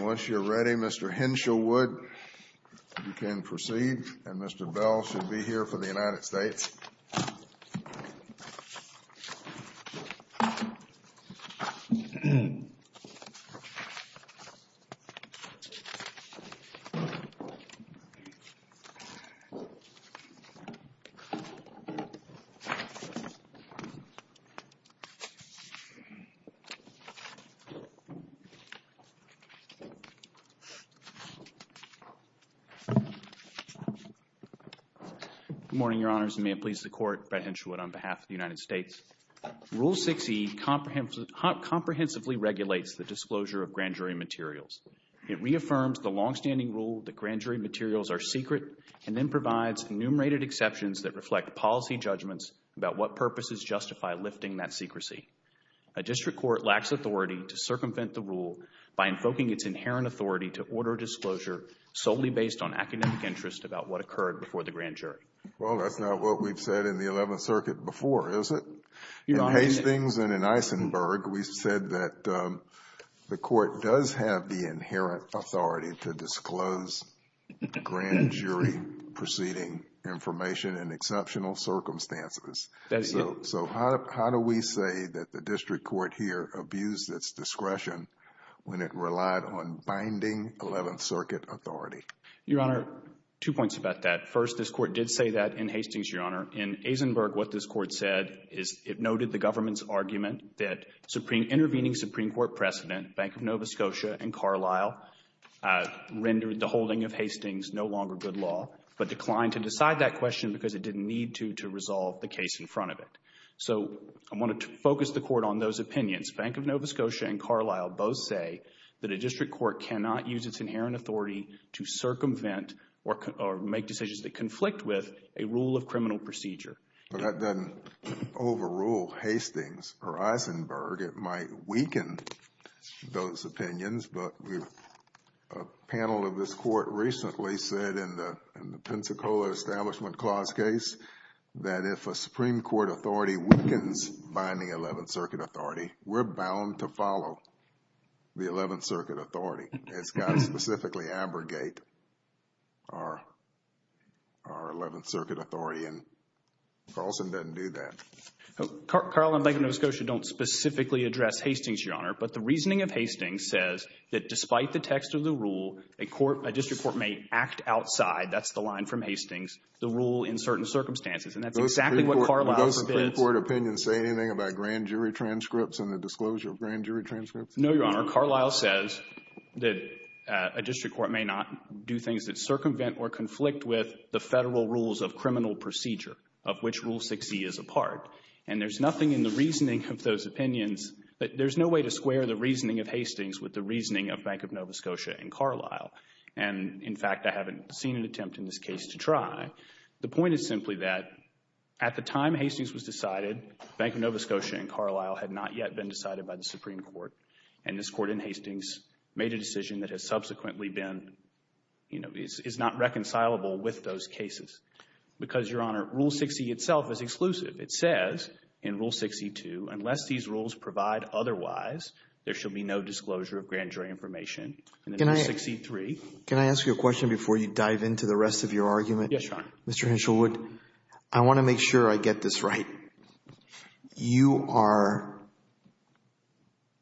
Once you are ready, Mr. Henshaw Wood, you can proceed and Mr. Bell should be here for the floor. Thank you, Your Honors, and may it please the Court, Brett Henschelwood, on behalf of the United States. Rule 6e comprehensively regulates the disclosure of grand jury materials. It reaffirms the longstanding rule that grand jury materials are secret and then provides enumerated exceptions that reflect policy judgments about what purposes justify lifting that secrecy. A district court lacks authority to circumvent the rule by invoking its inherent authority to order disclosure solely based on academic interest about what occurred before the grand jury. That's not what we've said in the Eleventh Circuit before, is it? In Hastings and in Eisenberg, we said that the Court does have the inherent authority to disclose grand jury proceeding information in exceptional circumstances. So how do we say that the district court here abused its discretion when it relied on binding Eleventh Circuit authority? Your Honor, two points about that. First, this Court did say that in Hastings, Your Honor. In Eisenberg, what this Court said is it noted the government's argument that intervening Supreme Court precedent, Bank of Nova Scotia and Carlisle, rendered the holding of Hastings no longer good law, but declined to decide that question because it didn't need to to resolve the case in front of it. So I want to focus the Court on those opinions. Bank of Nova Scotia and Carlisle both say that a district court cannot use its inherent authority to circumvent or make decisions that conflict with a rule of criminal procedure. But that doesn't overrule Hastings or Eisenberg. It might weaken those opinions, but a panel of this Court recently said in the Pensacola Establishment Clause case that if a Supreme Court authority weakens binding Eleventh Circuit authority, we're bound to follow the Eleventh Circuit authority. It's got to specifically abrogate our Eleventh Circuit authority, and Carlisle doesn't do that. Carlisle and Bank of Nova Scotia don't specifically address Hastings, Your Honor, but the reasoning of Hastings says that despite the text of the rule, a court, a district court may act outside, that's the line from Hastings, the rule in certain circumstances, and that's exactly what Carlisle says. Do those Supreme Court opinions say anything about grand jury transcripts and the disclosure of grand jury transcripts? No, Your Honor. Carlisle says that a district court may not do things that circumvent or conflict with the Federal rules of criminal procedure, of which Rule 6e is a part, and there's nothing in the reasoning of those opinions, there's no way to square the reasoning of Hastings with the reasoning of Bank of Nova Scotia and Carlisle, and in fact, I haven't seen an attempt in this case to try. The point is simply that at the time Hastings was decided, Bank of Nova Scotia and Carlisle had not yet been decided by the Supreme Court, and this Court in Hastings made a decision that has subsequently been, you know, is not reconcilable with those cases. Because Your Honor, Rule 6e itself is exclusive. It says in Rule 6e-2, unless these rules provide otherwise, there shall be no disclosure of grand jury information. And in Rule 6e-3. Can I ask you a question before you dive into the rest of your argument? Yes, Your Honor. Mr. Henshelwood, I want to make sure I get this right. You are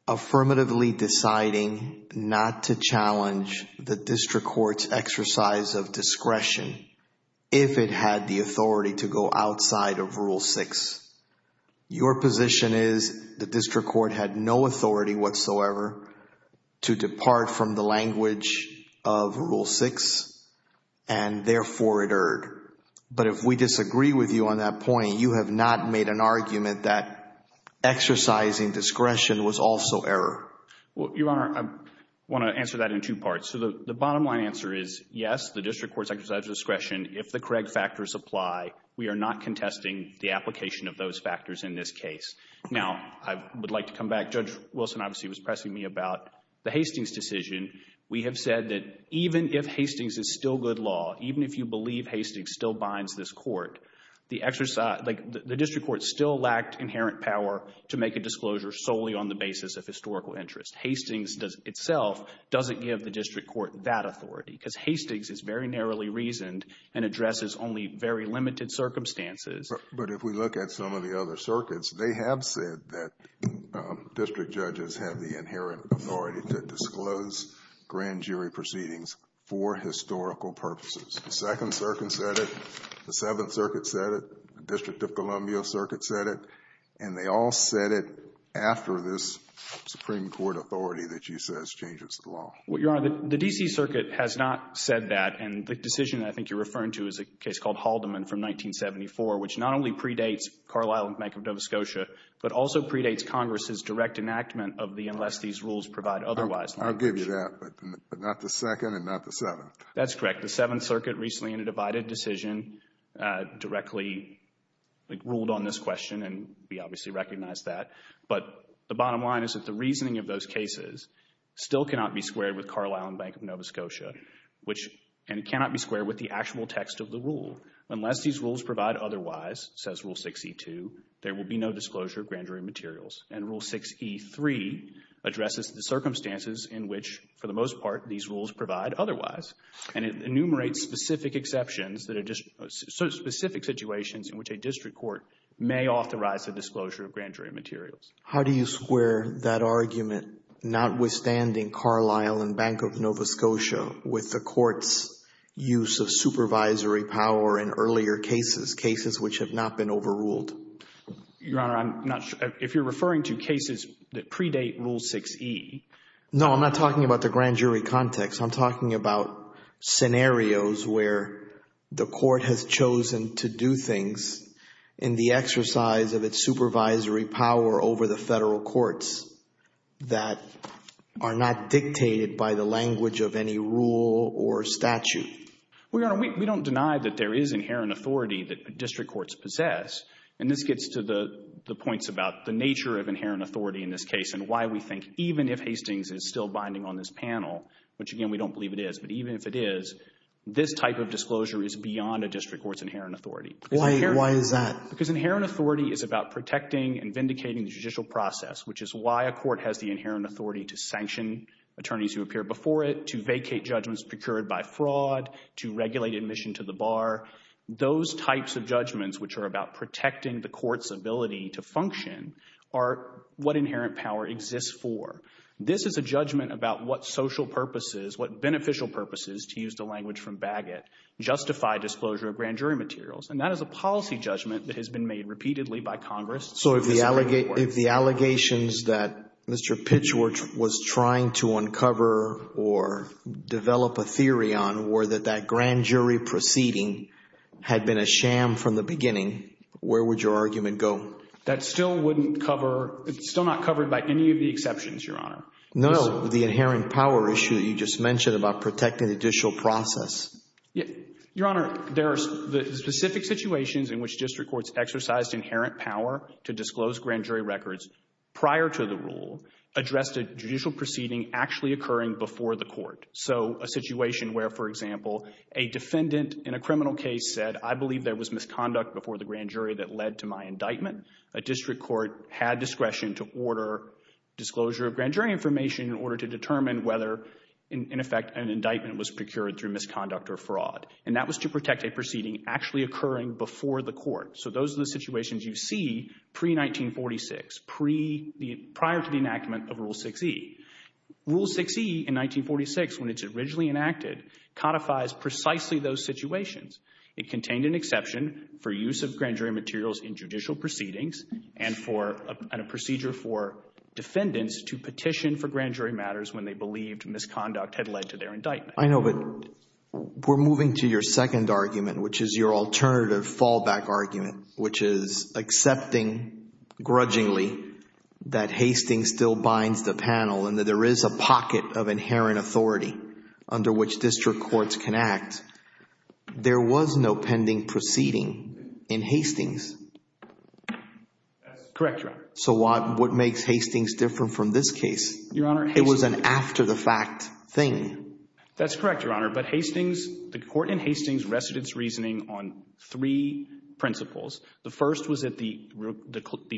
affirmatively deciding not to challenge the District Court's exercise of discretion if it had the authority to go outside of Rule 6. Your position is the District Court had no authority whatsoever to depart from the language of Rule 6, and therefore it erred. But if we disagree with you on that point, you have not made an argument that exercising discretion was also error. Well, Your Honor, I want to answer that in two parts. So the bottom line answer is yes, the District Court's exercise of discretion if the correct factors apply. We are not contesting the application of those factors in this case. Now I would like to come back. Judge Wilson obviously was pressing me about the Hastings decision. We have said that even if Hastings is still good law, even if you believe Hastings still binds this Court, the District Court still lacked inherent power to make a disclosure solely on the basis of historical interest. Hastings itself doesn't give the District Court that authority because Hastings is very narrowly reasoned and addresses only very limited circumstances. But if we look at some of the other circuits, they have said that district judges have the authority to make grand jury proceedings for historical purposes. The Second Circuit said it. The Seventh Circuit said it. The District of Columbia Circuit said it. And they all said it after this Supreme Court authority that you said has changed its law. Well, Your Honor, the D.C. Circuit has not said that. And the decision I think you're referring to is a case called Haldeman from 1974, which not only predates Carlisle and Bank of Nova Scotia, but also predates Congress's direct enactment of the unless these rules provide otherwise. I'll give you that, but not the second and not the seventh. That's correct. The Seventh Circuit recently, in a divided decision, directly ruled on this question and we obviously recognize that. But the bottom line is that the reasoning of those cases still cannot be squared with Carlisle and Bank of Nova Scotia, which, and it cannot be squared with the actual text of the rule. Unless these rules provide otherwise, says Rule 6e2, there will be no disclosure of grand jury materials. And Rule 6e3 addresses the circumstances in which, for the most part, these rules provide otherwise. And it enumerates specific exceptions, specific situations in which a district court may authorize a disclosure of grand jury materials. How do you square that argument, notwithstanding Carlisle and Bank of Nova Scotia, with the Court's use of supervisory power in earlier cases, cases which have not been overruled? Your Honor, I'm not sure. If you're referring to cases that predate Rule 6e. No, I'm not talking about the grand jury context. I'm talking about scenarios where the Court has chosen to do things in the exercise of its supervisory power over the Federal courts that are not dictated by the language of any rule or statute. Well, Your Honor, we don't deny that there is inherent authority that district courts possess. And this gets to the points about the nature of inherent authority in this case and why we think, even if Hastings is still binding on this panel, which, again, we don't believe it is, but even if it is, this type of disclosure is beyond a district court's inherent authority. Why is that? Because inherent authority is about protecting and vindicating the judicial process, which is why a court has the inherent authority to sanction attorneys who appear before it, to vacate judgments procured by fraud, to regulate admission to the bar. Those types of judgments, which are about protecting the court's ability to function, are what inherent power exists for. This is a judgment about what social purposes, what beneficial purposes, to use the language from Bagot, justify disclosure of grand jury materials. And that is a policy judgment that has been made repeatedly by Congress. So if the allegations that Mr. Pitchford was trying to uncover or develop a theory on were that that grand jury proceeding had been a sham from the beginning, where would your argument go? That still wouldn't cover, it's still not covered by any of the exceptions, Your Honor. No, the inherent power issue that you just mentioned about protecting the judicial process. Your Honor, there are specific situations in which district courts exercised inherent power to disclose grand jury records prior to the rule, addressed a judicial proceeding actually occurring before the court. So a situation where, for example, a defendant in a criminal case said, I believe there was misconduct before the grand jury that led to my indictment. A district court had discretion to order disclosure of grand jury information in order to determine whether, in effect, an indictment was procured through misconduct or fraud. And that was to protect a proceeding actually occurring before the court. So those are the situations you see pre-1946, prior to the enactment of Rule 6e. Rule 6e in 1946, when it's originally enacted, codifies precisely those situations. It contained an exception for use of grand jury materials in judicial proceedings and for a procedure for defendants to petition for grand jury matters when they believed misconduct had led to their indictment. I know, but we're moving to your second argument, which is your alternative fallback argument, which is accepting grudgingly that Hastings still binds the panel and that there is a pocket of inherent authority under which district courts can act. There was no pending proceeding in Hastings. That's correct, Your Honor. So what makes Hastings different from this case? Your Honor, Hastings... It was an after-the-fact thing. That's correct, Your Honor. But Hastings, the court in Hastings rested its reasoning on three principles. The first was that the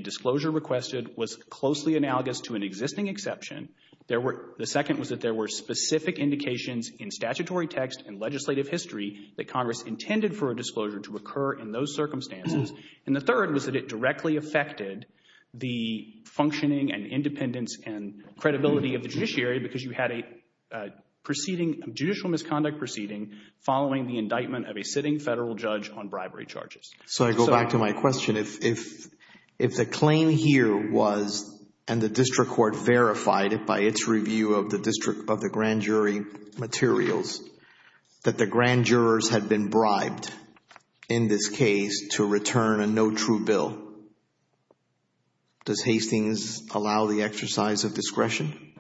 disclosure requested was closely analogous to an existing exception. There were... The second was that there were specific indications in statutory text and legislative history that Congress intended for a disclosure to occur in those circumstances. And the third was that it directly affected the functioning and independence and credibility of the judiciary because you had a judicial misconduct proceeding following the indictment of a sitting federal judge on bribery charges. So I go back to my question. If the claim here was, and the district court verified it by its review of the district of the grand jury materials, that the grand jurors had been bribed in this case to return a no true bill, does Hastings allow the exercise of discretion?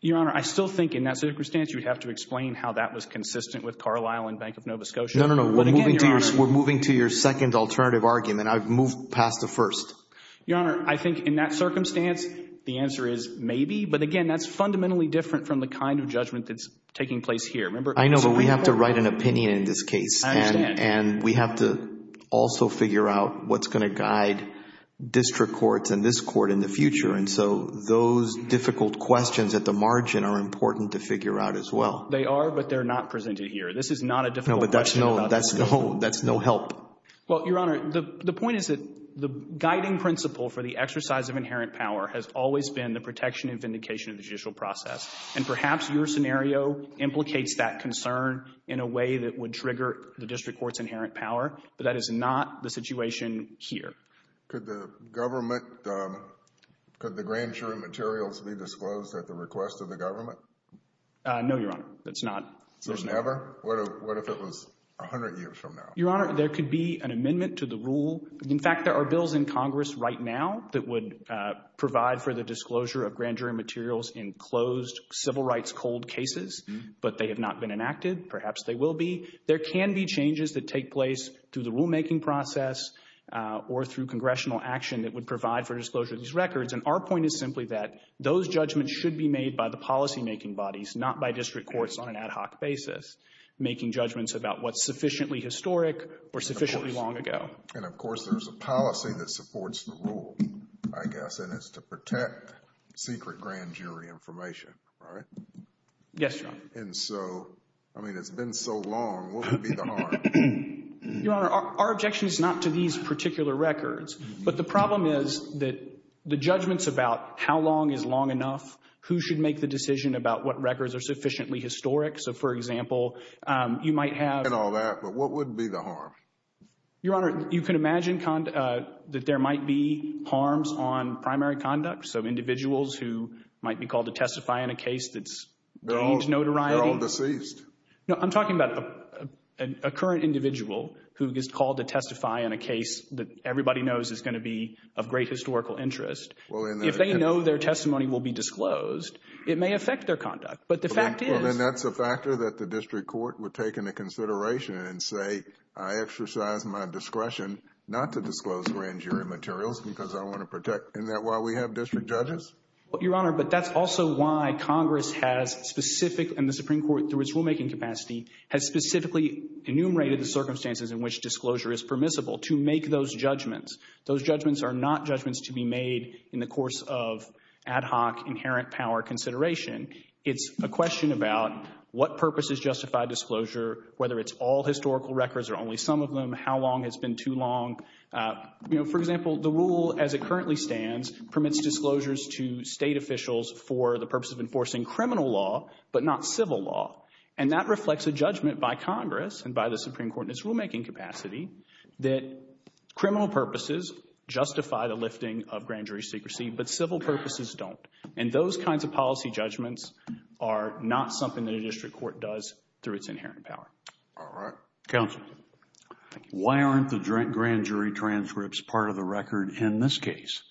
Your Honor, I still think in that circumstance, you'd have to explain how that was consistent with Carlisle and Bank of Nova Scotia. No, no, no. But again, Your Honor... We're moving to your second alternative argument. I've moved past the first. Your Honor, I think in that circumstance, the answer is maybe. But again, that's fundamentally different from the kind of judgment that's taking place here. Remember... I know, but we have to write an opinion in this case. I understand. And we have to also figure out what's going to guide district courts and this court in the future. And so those difficult questions at the margin are important to figure out as well. They are, but they're not presented here. This is not a difficult question. No, but that's no help. Well, Your Honor, the point is that the guiding principle for the exercise of inherent power has always been the protection and vindication of the judicial process. And perhaps your scenario implicates that concern in a way that would trigger the district court's inherent power. But that is not the situation here. Could the government... Could the grand jury materials be disclosed at the request of the government? No, Your Honor. That's not... Never? What if it was 100 years from now? Your Honor, there could be an amendment to the rule. In fact, there are bills in Congress right now that would provide for the disclosure of grand jury materials in closed civil rights cold cases, but they have not been enacted. Perhaps they will be. There can be changes that take place through the rulemaking process or through congressional action that would provide for disclosure of these records. And our point is simply that those judgments should be made by the policymaking bodies, not by district courts on an ad hoc basis, making judgments about what's sufficiently historic or sufficiently long ago. And of course, there's a policy that supports the rule, I guess, and it's to protect secret grand jury information, right? Yes, Your Honor. And so, I mean, it's been so long, what would be the harm? Your Honor, our objection is not to these particular records, but the problem is that the judgments about how long is long enough, who should make the decision about what records are sufficiently historic. So for example, you might have... And all that, but what would be the harm? Your Honor, you can imagine that there might be harms on primary conduct, so individuals who might be called to testify in a case that's gained notoriety. They're all deceased. No, I'm talking about a current individual who gets called to testify in a case that everybody knows is going to be of great historical interest. If they know their testimony will be disclosed, it may affect their conduct. But the fact is... Well, then that's a factor that the district court would take into consideration and say, I exercise my discretion not to disclose grand jury materials because I want to protect... Isn't that why we have district judges? Well, Your Honor, but that's also why Congress has specific... And the Supreme Court, through its rulemaking capacity, has specifically enumerated the circumstances in which disclosure is permissible to make those judgments. Those judgments are not judgments to be made in the course of ad hoc inherent power consideration. It's a question about what purpose is justified disclosure, whether it's all historical records or only some of them, how long has been too long. You know, for example, the rule as it currently stands permits disclosures to state officials for the purpose of enforcing criminal law, but not civil law. And that reflects a judgment by Congress and by the Supreme Court in its rulemaking capacity that criminal purposes justify the lifting of grand jury secrecy, but civil purposes don't. And those kinds of policy judgments are not something that a district court does through its inherent power. All right. Counsel. Thank you. Your Honor, why aren't the grand jury transcripts part of the record in this case?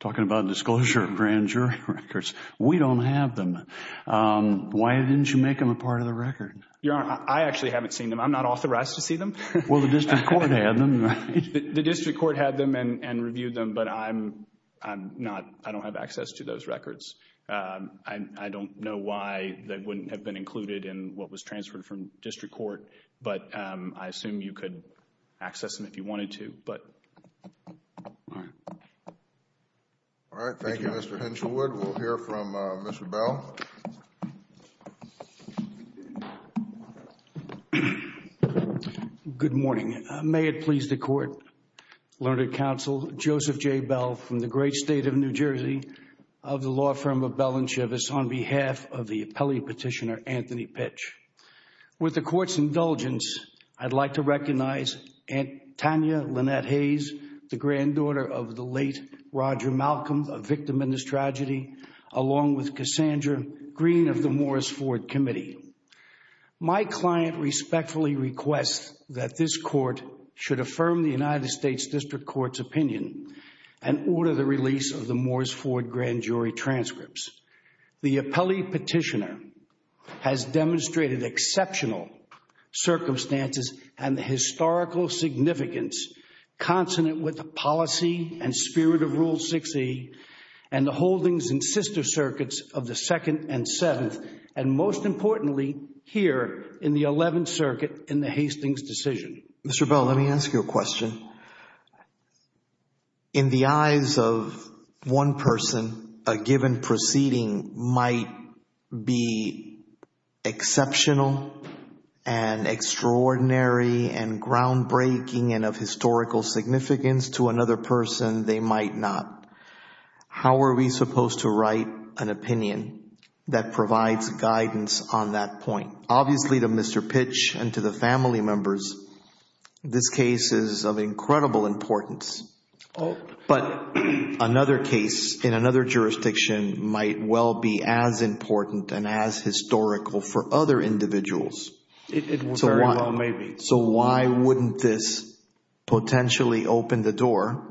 Talking about disclosure of grand jury records. We don't have them. Why didn't you make them a part of the record? Your Honor, I actually haven't seen them. I'm not authorized to see them. Well, the district court had them. The district court had them and reviewed them, but I'm not... I don't have access to those records. I don't know why they wouldn't have been included in what was transferred from district court, but I assume you could access them if you wanted to, but... All right. All right. Thank you, Mr. Henshawood. We'll hear from Mr. Bell. Good morning. May it please the Court, Learned Counsel Joseph J. Bell from the great state of New Jersey, of the law firm of Bell and Chivas, on behalf of the appellee petitioner, Anthony Pitch. With the Court's indulgence, I'd like to recognize Tanya Lynette Hayes, the granddaughter of the late Roger Malcolm, a victim in this tragedy, along with Cassandra Greene of the Morris Ford Committee. My client respectfully requests that this Court should affirm the United States District Court's opinion and order the release of the Morris Ford grand jury transcripts. The appellee petitioner has demonstrated exceptional circumstances and the historical significance consonant with the policy and spirit of Rule 6E and the holdings in sister circuits of the Second and Seventh, and most importantly, here in the Eleventh Circuit, in the Hastings decision. Mr. Bell, let me ask you a question. In the eyes of one person, a given proceeding might be exceptional and extraordinary and groundbreaking and of historical significance. To another person, they might not. How are we supposed to write an opinion that provides guidance on that point? Obviously, to Mr. Pitch and to the family members, this case is of incredible importance. But another case in another jurisdiction might well be as important and as historical for other individuals. So why wouldn't this potentially open the door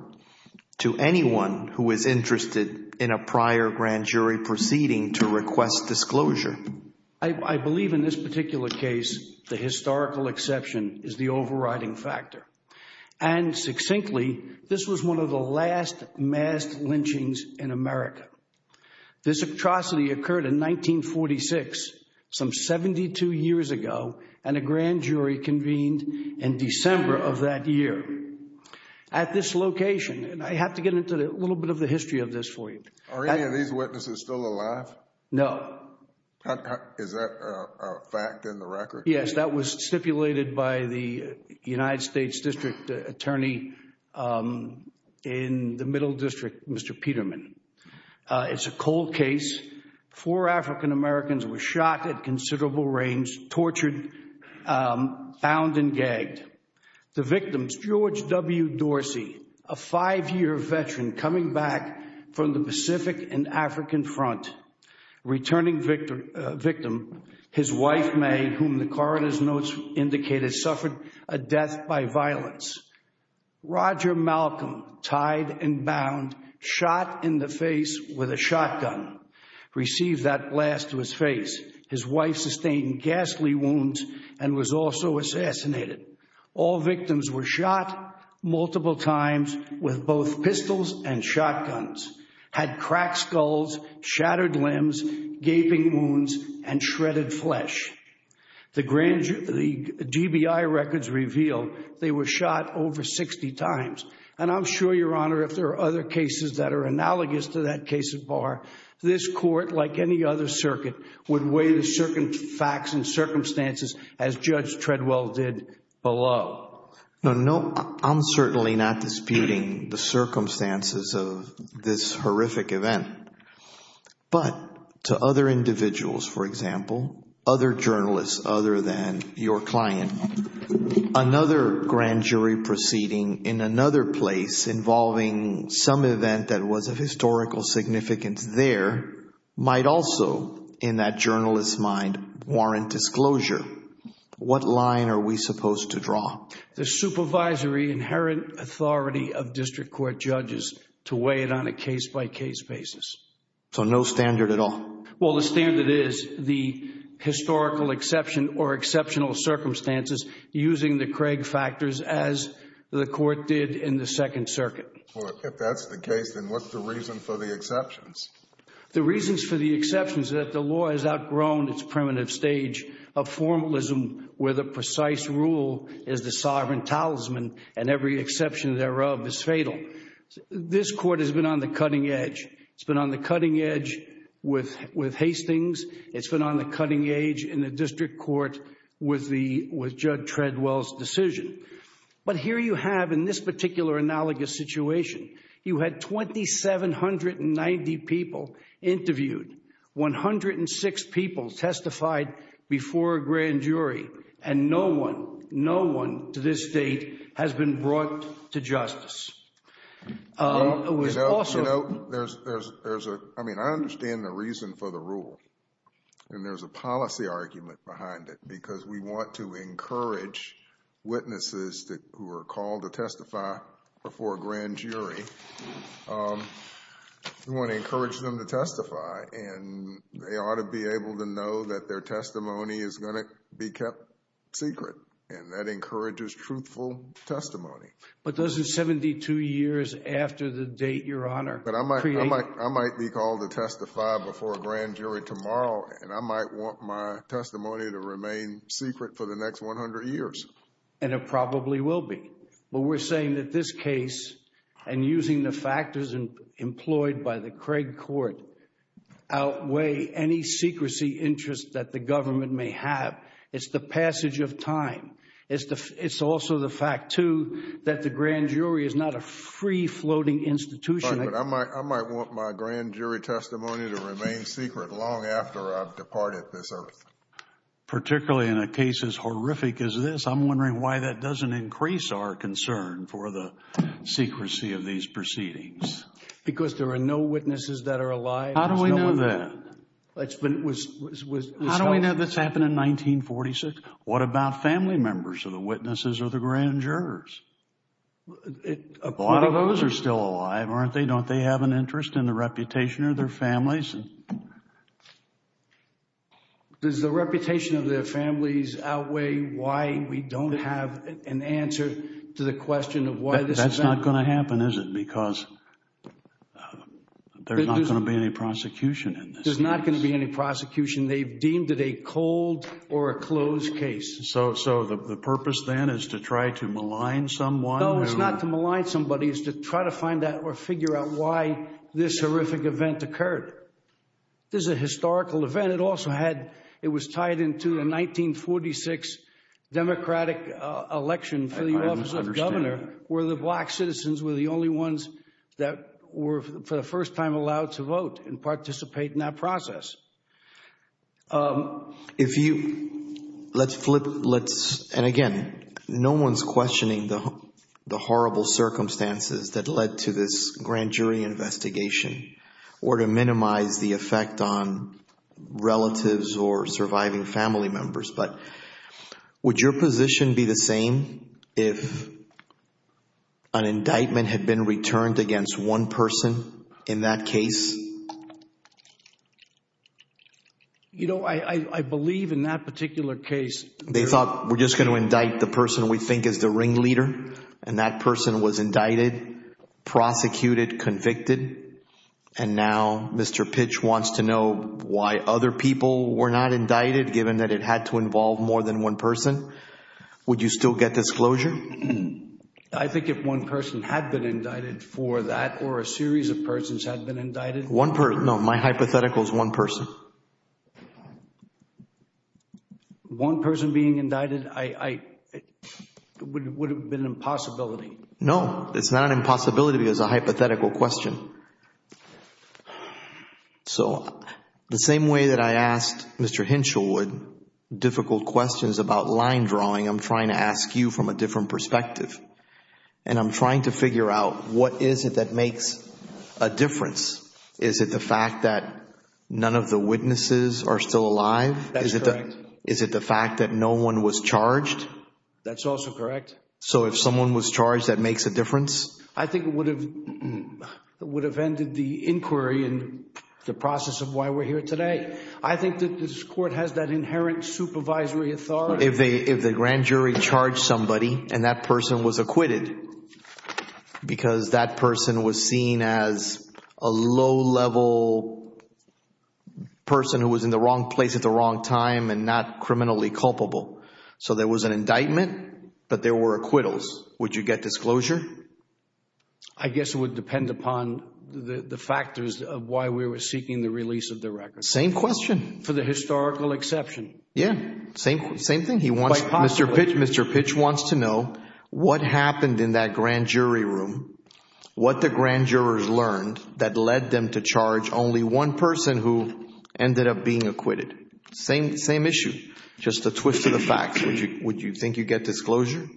to anyone who is interested in a prior grand jury proceeding to request disclosure? I believe in this particular case, the historical exception is the overriding factor. And succinctly, this was one of the last mass lynchings in America. This atrocity occurred in 1946, some 72 years ago, and a grand jury convened in December of that year. At this location, and I have to get into a little bit of the history of this for you. Are any of these witnesses still alive? No. Is that a fact in the record? Yes, that was stipulated by the United States District Attorney in the Middle District, Mr. Peterman. It's a cold case. Four African-Americans were shot at considerable range, tortured, found and gagged. The victims, George W. Dorsey, a five-year veteran coming back from the Pacific and African front, returning victim, his wife, May, whom the coroner's notes indicated, suffered a death by violence. Roger Malcolm, tied and bound, shot in the face with a shotgun, received that blast to his face. His wife sustained ghastly wounds and was also assassinated. All victims were shot multiple times with both pistols and shotguns. Had cracked skulls, shattered limbs, gaping wounds, and shredded flesh. The DBI records reveal they were shot over 60 times. And I'm sure, Your Honor, if there are other cases that are analogous to that case of Barr, this court, like any other circuit, would weigh the facts and circumstances as Judge Treadwell did below. No, I'm certainly not disputing the circumstances of this horrific event. But to other individuals, for example, other journalists other than your client, another grand jury proceeding in another place involving some event that was of historical significance there might also, in that journalist's mind, warrant disclosure. What line are we supposed to draw? The supervisory inherent authority of district court judges to weigh it on a case-by-case basis. So no standard at all? Well, the standard is the historical exception or exceptional circumstances using the Craig factors as the court did in the Second Circuit. Well, if that's the case, then what's the reason for the exceptions? The reasons for the exceptions is that the law has outgrown its primitive stage of formalism where the precise rule is the sovereign talisman and every exception thereof is fatal. This court has been on the cutting edge. It's been on the cutting edge with Hastings. It's been on the cutting edge in the district court with Judge Treadwell's decision. But here you have, in this particular analogous situation, you had 2,790 people interviewed, 106 people testified before a grand jury, and no one, no one to this date has been brought to justice. I mean, I understand the reason for the rule and there's a policy argument behind it because we want to encourage witnesses who are called to testify before a grand jury. We want to encourage them to testify and they ought to be able to know that their testimony is going to be kept secret and that encourages truthful testimony. But those are 72 years after the date, Your Honor. But I might be called to testify before a grand jury tomorrow and I might want my testimony to remain secret for the next 100 years. And it probably will be. But we're saying that this case, and using the factors employed by the Craig Court, outweigh any secrecy interest that the government may have. It's the passage of time. It's also the fact, too, that the grand jury is not a free-floating institution. I might want my grand jury testimony to remain secret long after I've departed this earth. Particularly in a case as horrific as this, I'm wondering why that doesn't increase our concern for the secrecy of these proceedings. Because there are no witnesses that are alive. How do we know that? How do we know that's happened in 1946? What about family members of the witnesses or the grand jurors? A lot of those are still alive, aren't they? Don't they have an interest in the reputation of their families? Does the reputation of their families outweigh why we don't have an answer to the question of why this event? That's not going to happen, is it? Because there's not going to be any prosecution in this case. There's not going to be any prosecution. They've deemed it a cold or a closed case. So the purpose, then, is to try to malign someone? No, it's not to malign somebody. It's to try to find out or figure out why this horrific event occurred. This is a historical event. It also had, it was tied into the 1946 Democratic election for the office of governor, where the black citizens were the only ones that were for the first time allowed to vote and participate in that process. If you, let's flip, let's, and again, no one's questioning the horrible circumstances that effect on relatives or surviving family members, but would your position be the same if an indictment had been returned against one person in that case? You know, I believe in that particular case. They thought, we're just going to indict the person we think is the ringleader, and that person was indicted, prosecuted, convicted, and now Mr. Pitch wants to know why other people were not indicted given that it had to involve more than one person. Would you still get disclosure? I think if one person had been indicted for that or a series of persons had been indicted. One person, no, my hypothetical is one person. One person being indicted, it would have been an impossibility. No, it's not an impossibility because it's a hypothetical question. So the same way that I asked Mr. Hinshelwood difficult questions about line drawing, I'm trying to ask you from a different perspective. And I'm trying to figure out what is it that makes a difference? Is it the fact that none of the witnesses are still alive? That's correct. Is it the fact that no one was charged? That's also correct. So if someone was charged, that makes a difference? I think it would have ended the inquiry and the process of why we're here today. I think that this court has that inherent supervisory authority. If the grand jury charged somebody and that person was acquitted because that person was seen as a low level person who was in the wrong place at the wrong time and not criminally culpable. So there was an indictment, but there were acquittals. Would you get disclosure? I guess it would depend upon the factors of why we were seeking the release of the record. Same question. For the historical exception. Yeah, same thing. Mr. Pitch wants to know what happened in that grand jury room? What the grand jurors learned that led them to charge only one person who ended up being acquitted? Same issue. Just a twist of the facts. Would you think you'd get disclosure?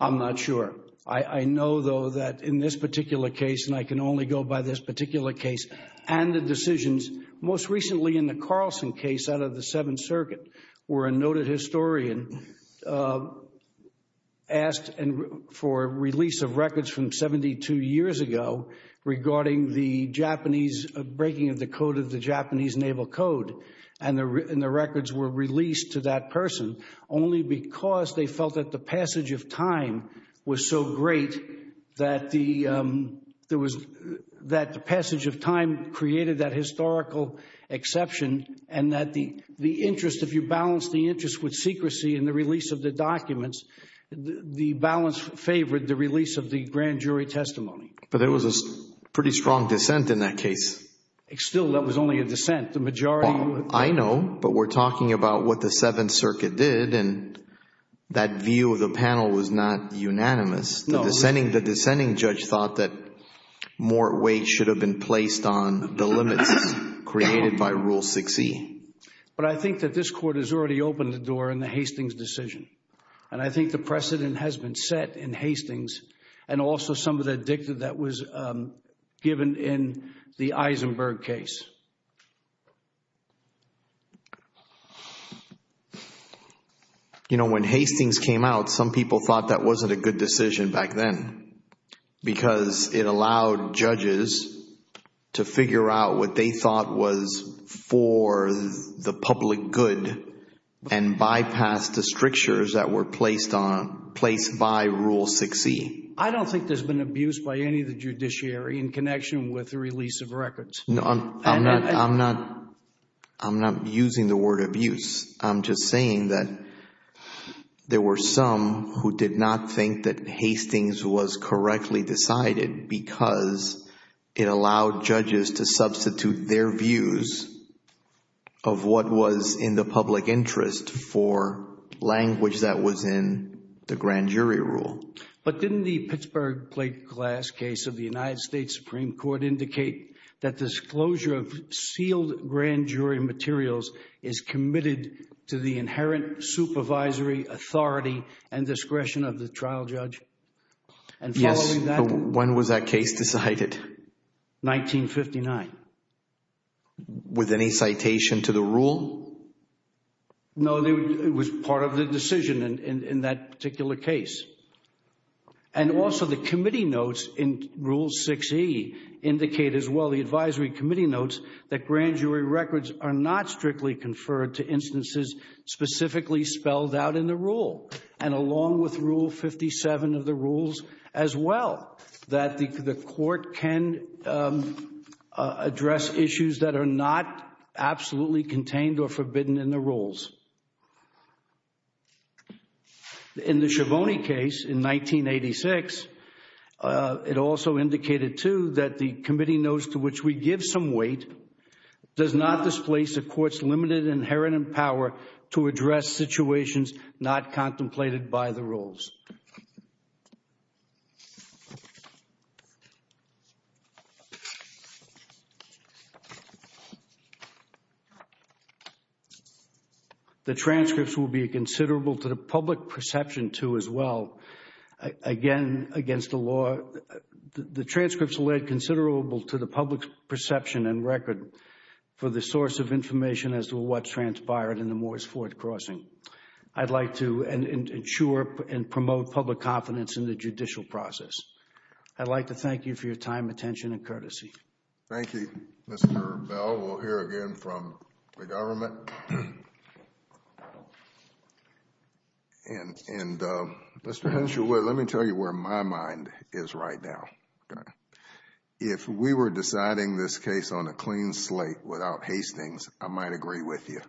I'm not sure. I know though that in this particular case, and I can only go by this particular case and the decisions most recently in the Carlson case out of the Seventh Circuit were a noted historian asked for release of records from 72 years ago regarding the Japanese breaking of the code of the Japanese Naval Code and the records were released to that person only because they felt that the passage of time was so great that the passage of time created that historical exception and that the interest, if you balance the interest with secrecy in the release of the documents, the balance favored the release of the grand jury testimony. But there was a pretty strong dissent in that case. Still, that was only a dissent. The majority... I know, but we're talking about what the Seventh Circuit did and that view of the panel was not unanimous. No. The dissenting judge thought that more weight should have been placed on the limits created by Rule 6e. But I think that this court has already opened the door in the Hastings decision and I think the precedent has been set in Hastings and also some of the dicta that was given in the Eisenberg case. You know, when Hastings came out, some people thought that wasn't a good decision back then because it allowed judges to figure out what they thought was for the public good and bypass the strictures that were placed by Rule 6e. I don't think there's been abuse by any of the judiciary in connection with the release of records. I'm not using the word abuse. I'm just saying that there were some who did not think that Hastings was correctly decided because it allowed judges to substitute their views of what was in the public interest for language that was in the grand jury rule. But didn't the Pittsburgh plate glass case of the United States Supreme Court indicate that disclosure of sealed grand jury materials is committed to the inherent supervisory authority and discretion of the trial judge? Yes, but when was that case decided? 1959. With any citation to the rule? No, it was part of the decision in that particular case. And also the committee notes in Rule 6e indicate as well the advisory committee notes that grand jury records are not strictly conferred to instances specifically spelled out in the rule. And along with Rule 57 of the rules as well, that the court can address issues that are not absolutely contained or forbidden in the rules. In the Schiavone case in 1986, it also indicated too that the committee notes to which we give some weight does not displace the court's limited inherent power to address situations not contemplated by the rules. The transcripts will be considerable to the public perception too as well. Again, against the law, the transcripts led considerable to the public perception and record for the source of information as to what transpired in the Moore's Fourth Crossing. I'd like to ensure and promote public confidence in the judicial process. I'd like to thank you for your time, attention, and courtesy. Thank you, Mr. Bell. We'll hear again from the government. And Mr. Henshaw, let me tell you where my mind is right now. If we were deciding this case on a clean slate without Hastings, I might agree with you.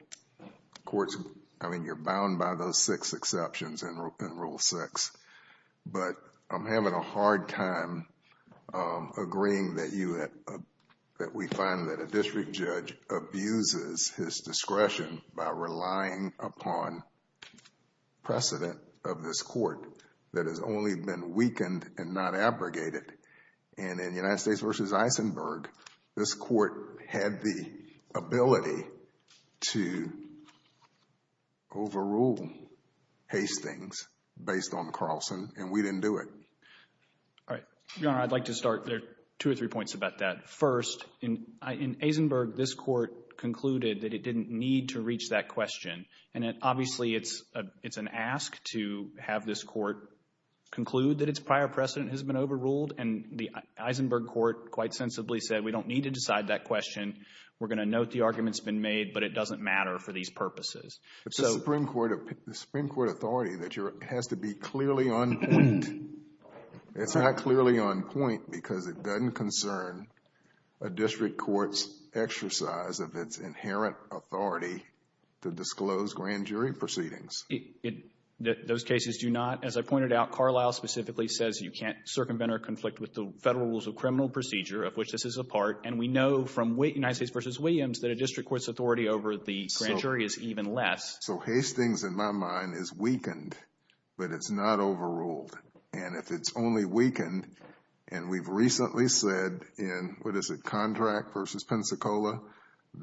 Courts, I mean, you're bound by those six exceptions in Rule 6. But I'm having a hard time agreeing that we find that a district judge abuses his discretion by relying upon precedent of this court that has only been weakened and not abrogated. And in United States v. Eisenberg, this court had the ability to overrule Hastings based on Carlson, and we didn't do it. All right. Your Honor, I'd like to start. There are two or three points about that. First, in Eisenberg, this court concluded that it didn't need to reach that question. And obviously, it's an ask to have this court conclude that its prior precedent has been overruled. And the Eisenberg court quite sensibly said, we don't need to decide that question. We're going to note the arguments been made, but it doesn't matter for these purposes. It's the Supreme Court authority that has to be clearly on point. It's not clearly on point because it doesn't concern a district court's exercise of its inherent authority to disclose grand jury proceedings. Those cases do not. As I pointed out, Carlisle specifically says you can't circumvent or conflict with the federal rules of criminal procedure of which this is a part. And we know from United States v. Williams that a district court's authority over the grand jury is even less. So Hastings, in my mind, is weakened, but it's not overruled. And if it's only weakened, and we've recently said in, what is it, Contract v. Pensacola,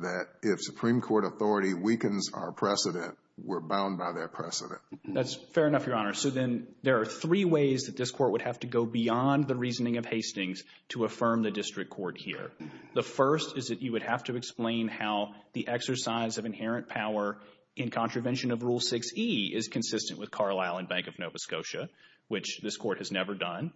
that if Supreme Court authority weakens our precedent, we're bound by that precedent. That's fair enough, Your Honor. So then there are three ways that this court would have to go beyond the reasoning of Hastings to affirm the district court here. The first is that you would have to explain how the exercise of inherent power in contravention of Rule 6e is consistent with Carlisle and Bank of Nova Scotia, which this court has never done.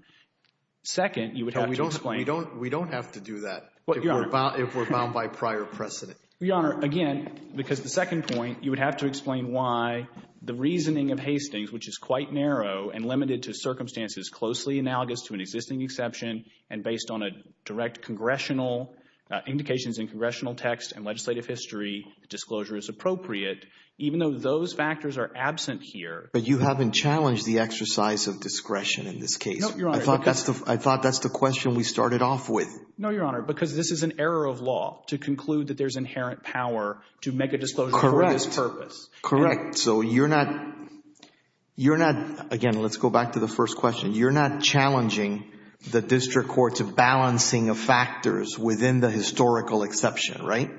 Second, you would have to explain — We don't have to do that if we're bound by prior precedent. Your Honor, again, because the second point, you would have to explain why the reasoning of Hastings, which is quite narrow and limited to circumstances closely analogous to an existing exception and based on a direct congressional — indications in congressional text and legislative history, disclosure is appropriate. Even though those factors are absent here — But you haven't challenged the exercise of discretion in this case. No, Your Honor. I thought that's the question we started off with. No, Your Honor, because this is an error of law to conclude that there's inherent power to make a disclosure for this purpose. Correct. So you're not — again, let's go back to the first question. You're not challenging the district court's balancing of factors within the historical exception, right?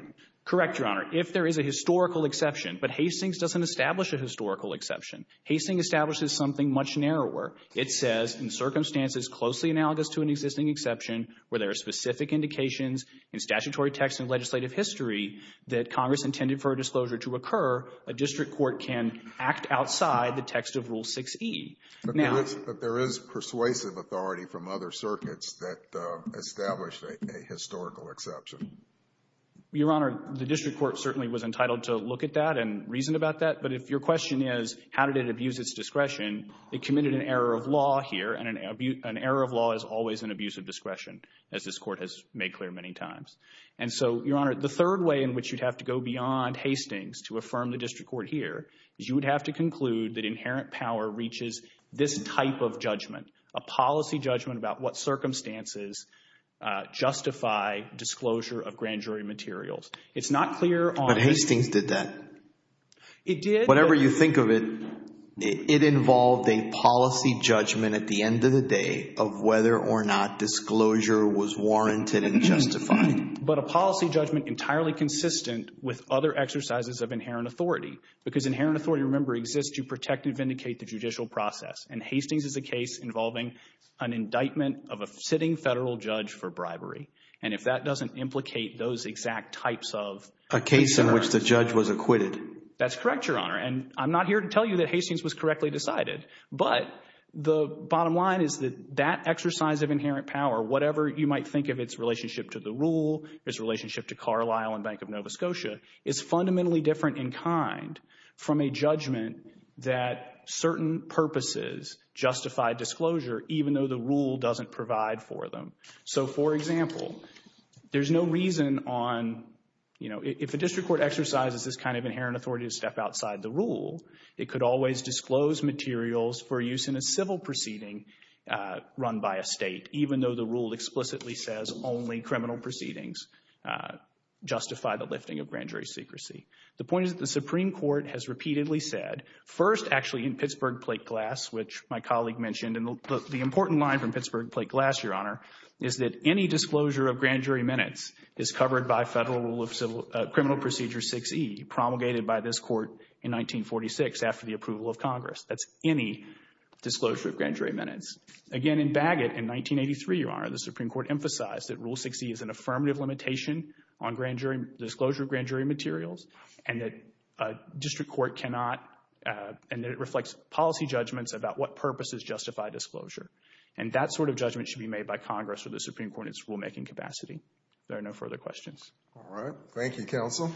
Correct, Your Honor. If there is a historical exception — but Hastings doesn't establish a historical exception. Hastings establishes something much narrower. It says, in circumstances closely analogous to an existing exception, where there are specific indications in statutory text and legislative history that Congress intended for a disclosure to occur, a district court can act outside the text of Rule 6e. But there is persuasive authority from other circuits that establish a historical exception. Your Honor, the district court certainly was entitled to look at that and reason about that. But if your question is, how did it abuse its discretion, it committed an error of law here, and an error of law is always an abuse of discretion, as this Court has made clear many times. And so, Your Honor, the third way in which you'd have to go beyond Hastings to affirm the district court here is you would have to conclude that inherent power reaches this type of judgment, a policy judgment about what circumstances justify disclosure of grand jury materials. It's not clear on — But Hastings did that. It did — Whatever you think of it, it involved a policy judgment at the end of the day of whether or not disclosure was warranted and justified. But a policy judgment entirely consistent with other exercises of inherent authority. Because inherent authority, remember, exists to protect and vindicate the judicial process. And Hastings is a case involving an indictment of a sitting federal judge for bribery. And if that doesn't implicate those exact types of — A case in which the judge was acquitted. That's correct, Your Honor. And I'm not here to tell you that Hastings was correctly decided. But the bottom line is that that exercise of inherent power, whatever you might think of its relationship to the rule, its relationship to Carlisle and Bank of Nova Scotia, is fundamentally different in kind from a judgment that certain purposes justify disclosure even though the rule doesn't provide for them. So, for example, there's no reason on, you know, if a district court exercises this kind of inherent authority to step outside the rule, it could always disclose materials for only criminal proceedings justify the lifting of grand jury secrecy. The point is that the Supreme Court has repeatedly said, first, actually, in Pittsburgh plate glass, which my colleague mentioned, and the important line from Pittsburgh plate glass, Your Honor, is that any disclosure of grand jury minutes is covered by federal rule of criminal procedure 6E promulgated by this court in 1946 after the approval of Congress. That's any disclosure of grand jury minutes. Again, in Bagot in 1983, Your Honor, the Supreme Court emphasized that rule 6E is an affirmative limitation on grand jury disclosure of grand jury materials and that a district court cannot and that it reflects policy judgments about what purposes justify disclosure. And that sort of judgment should be made by Congress or the Supreme Court in its rule making capacity. There are no further questions. All right. Thank you, counsel. Thank you.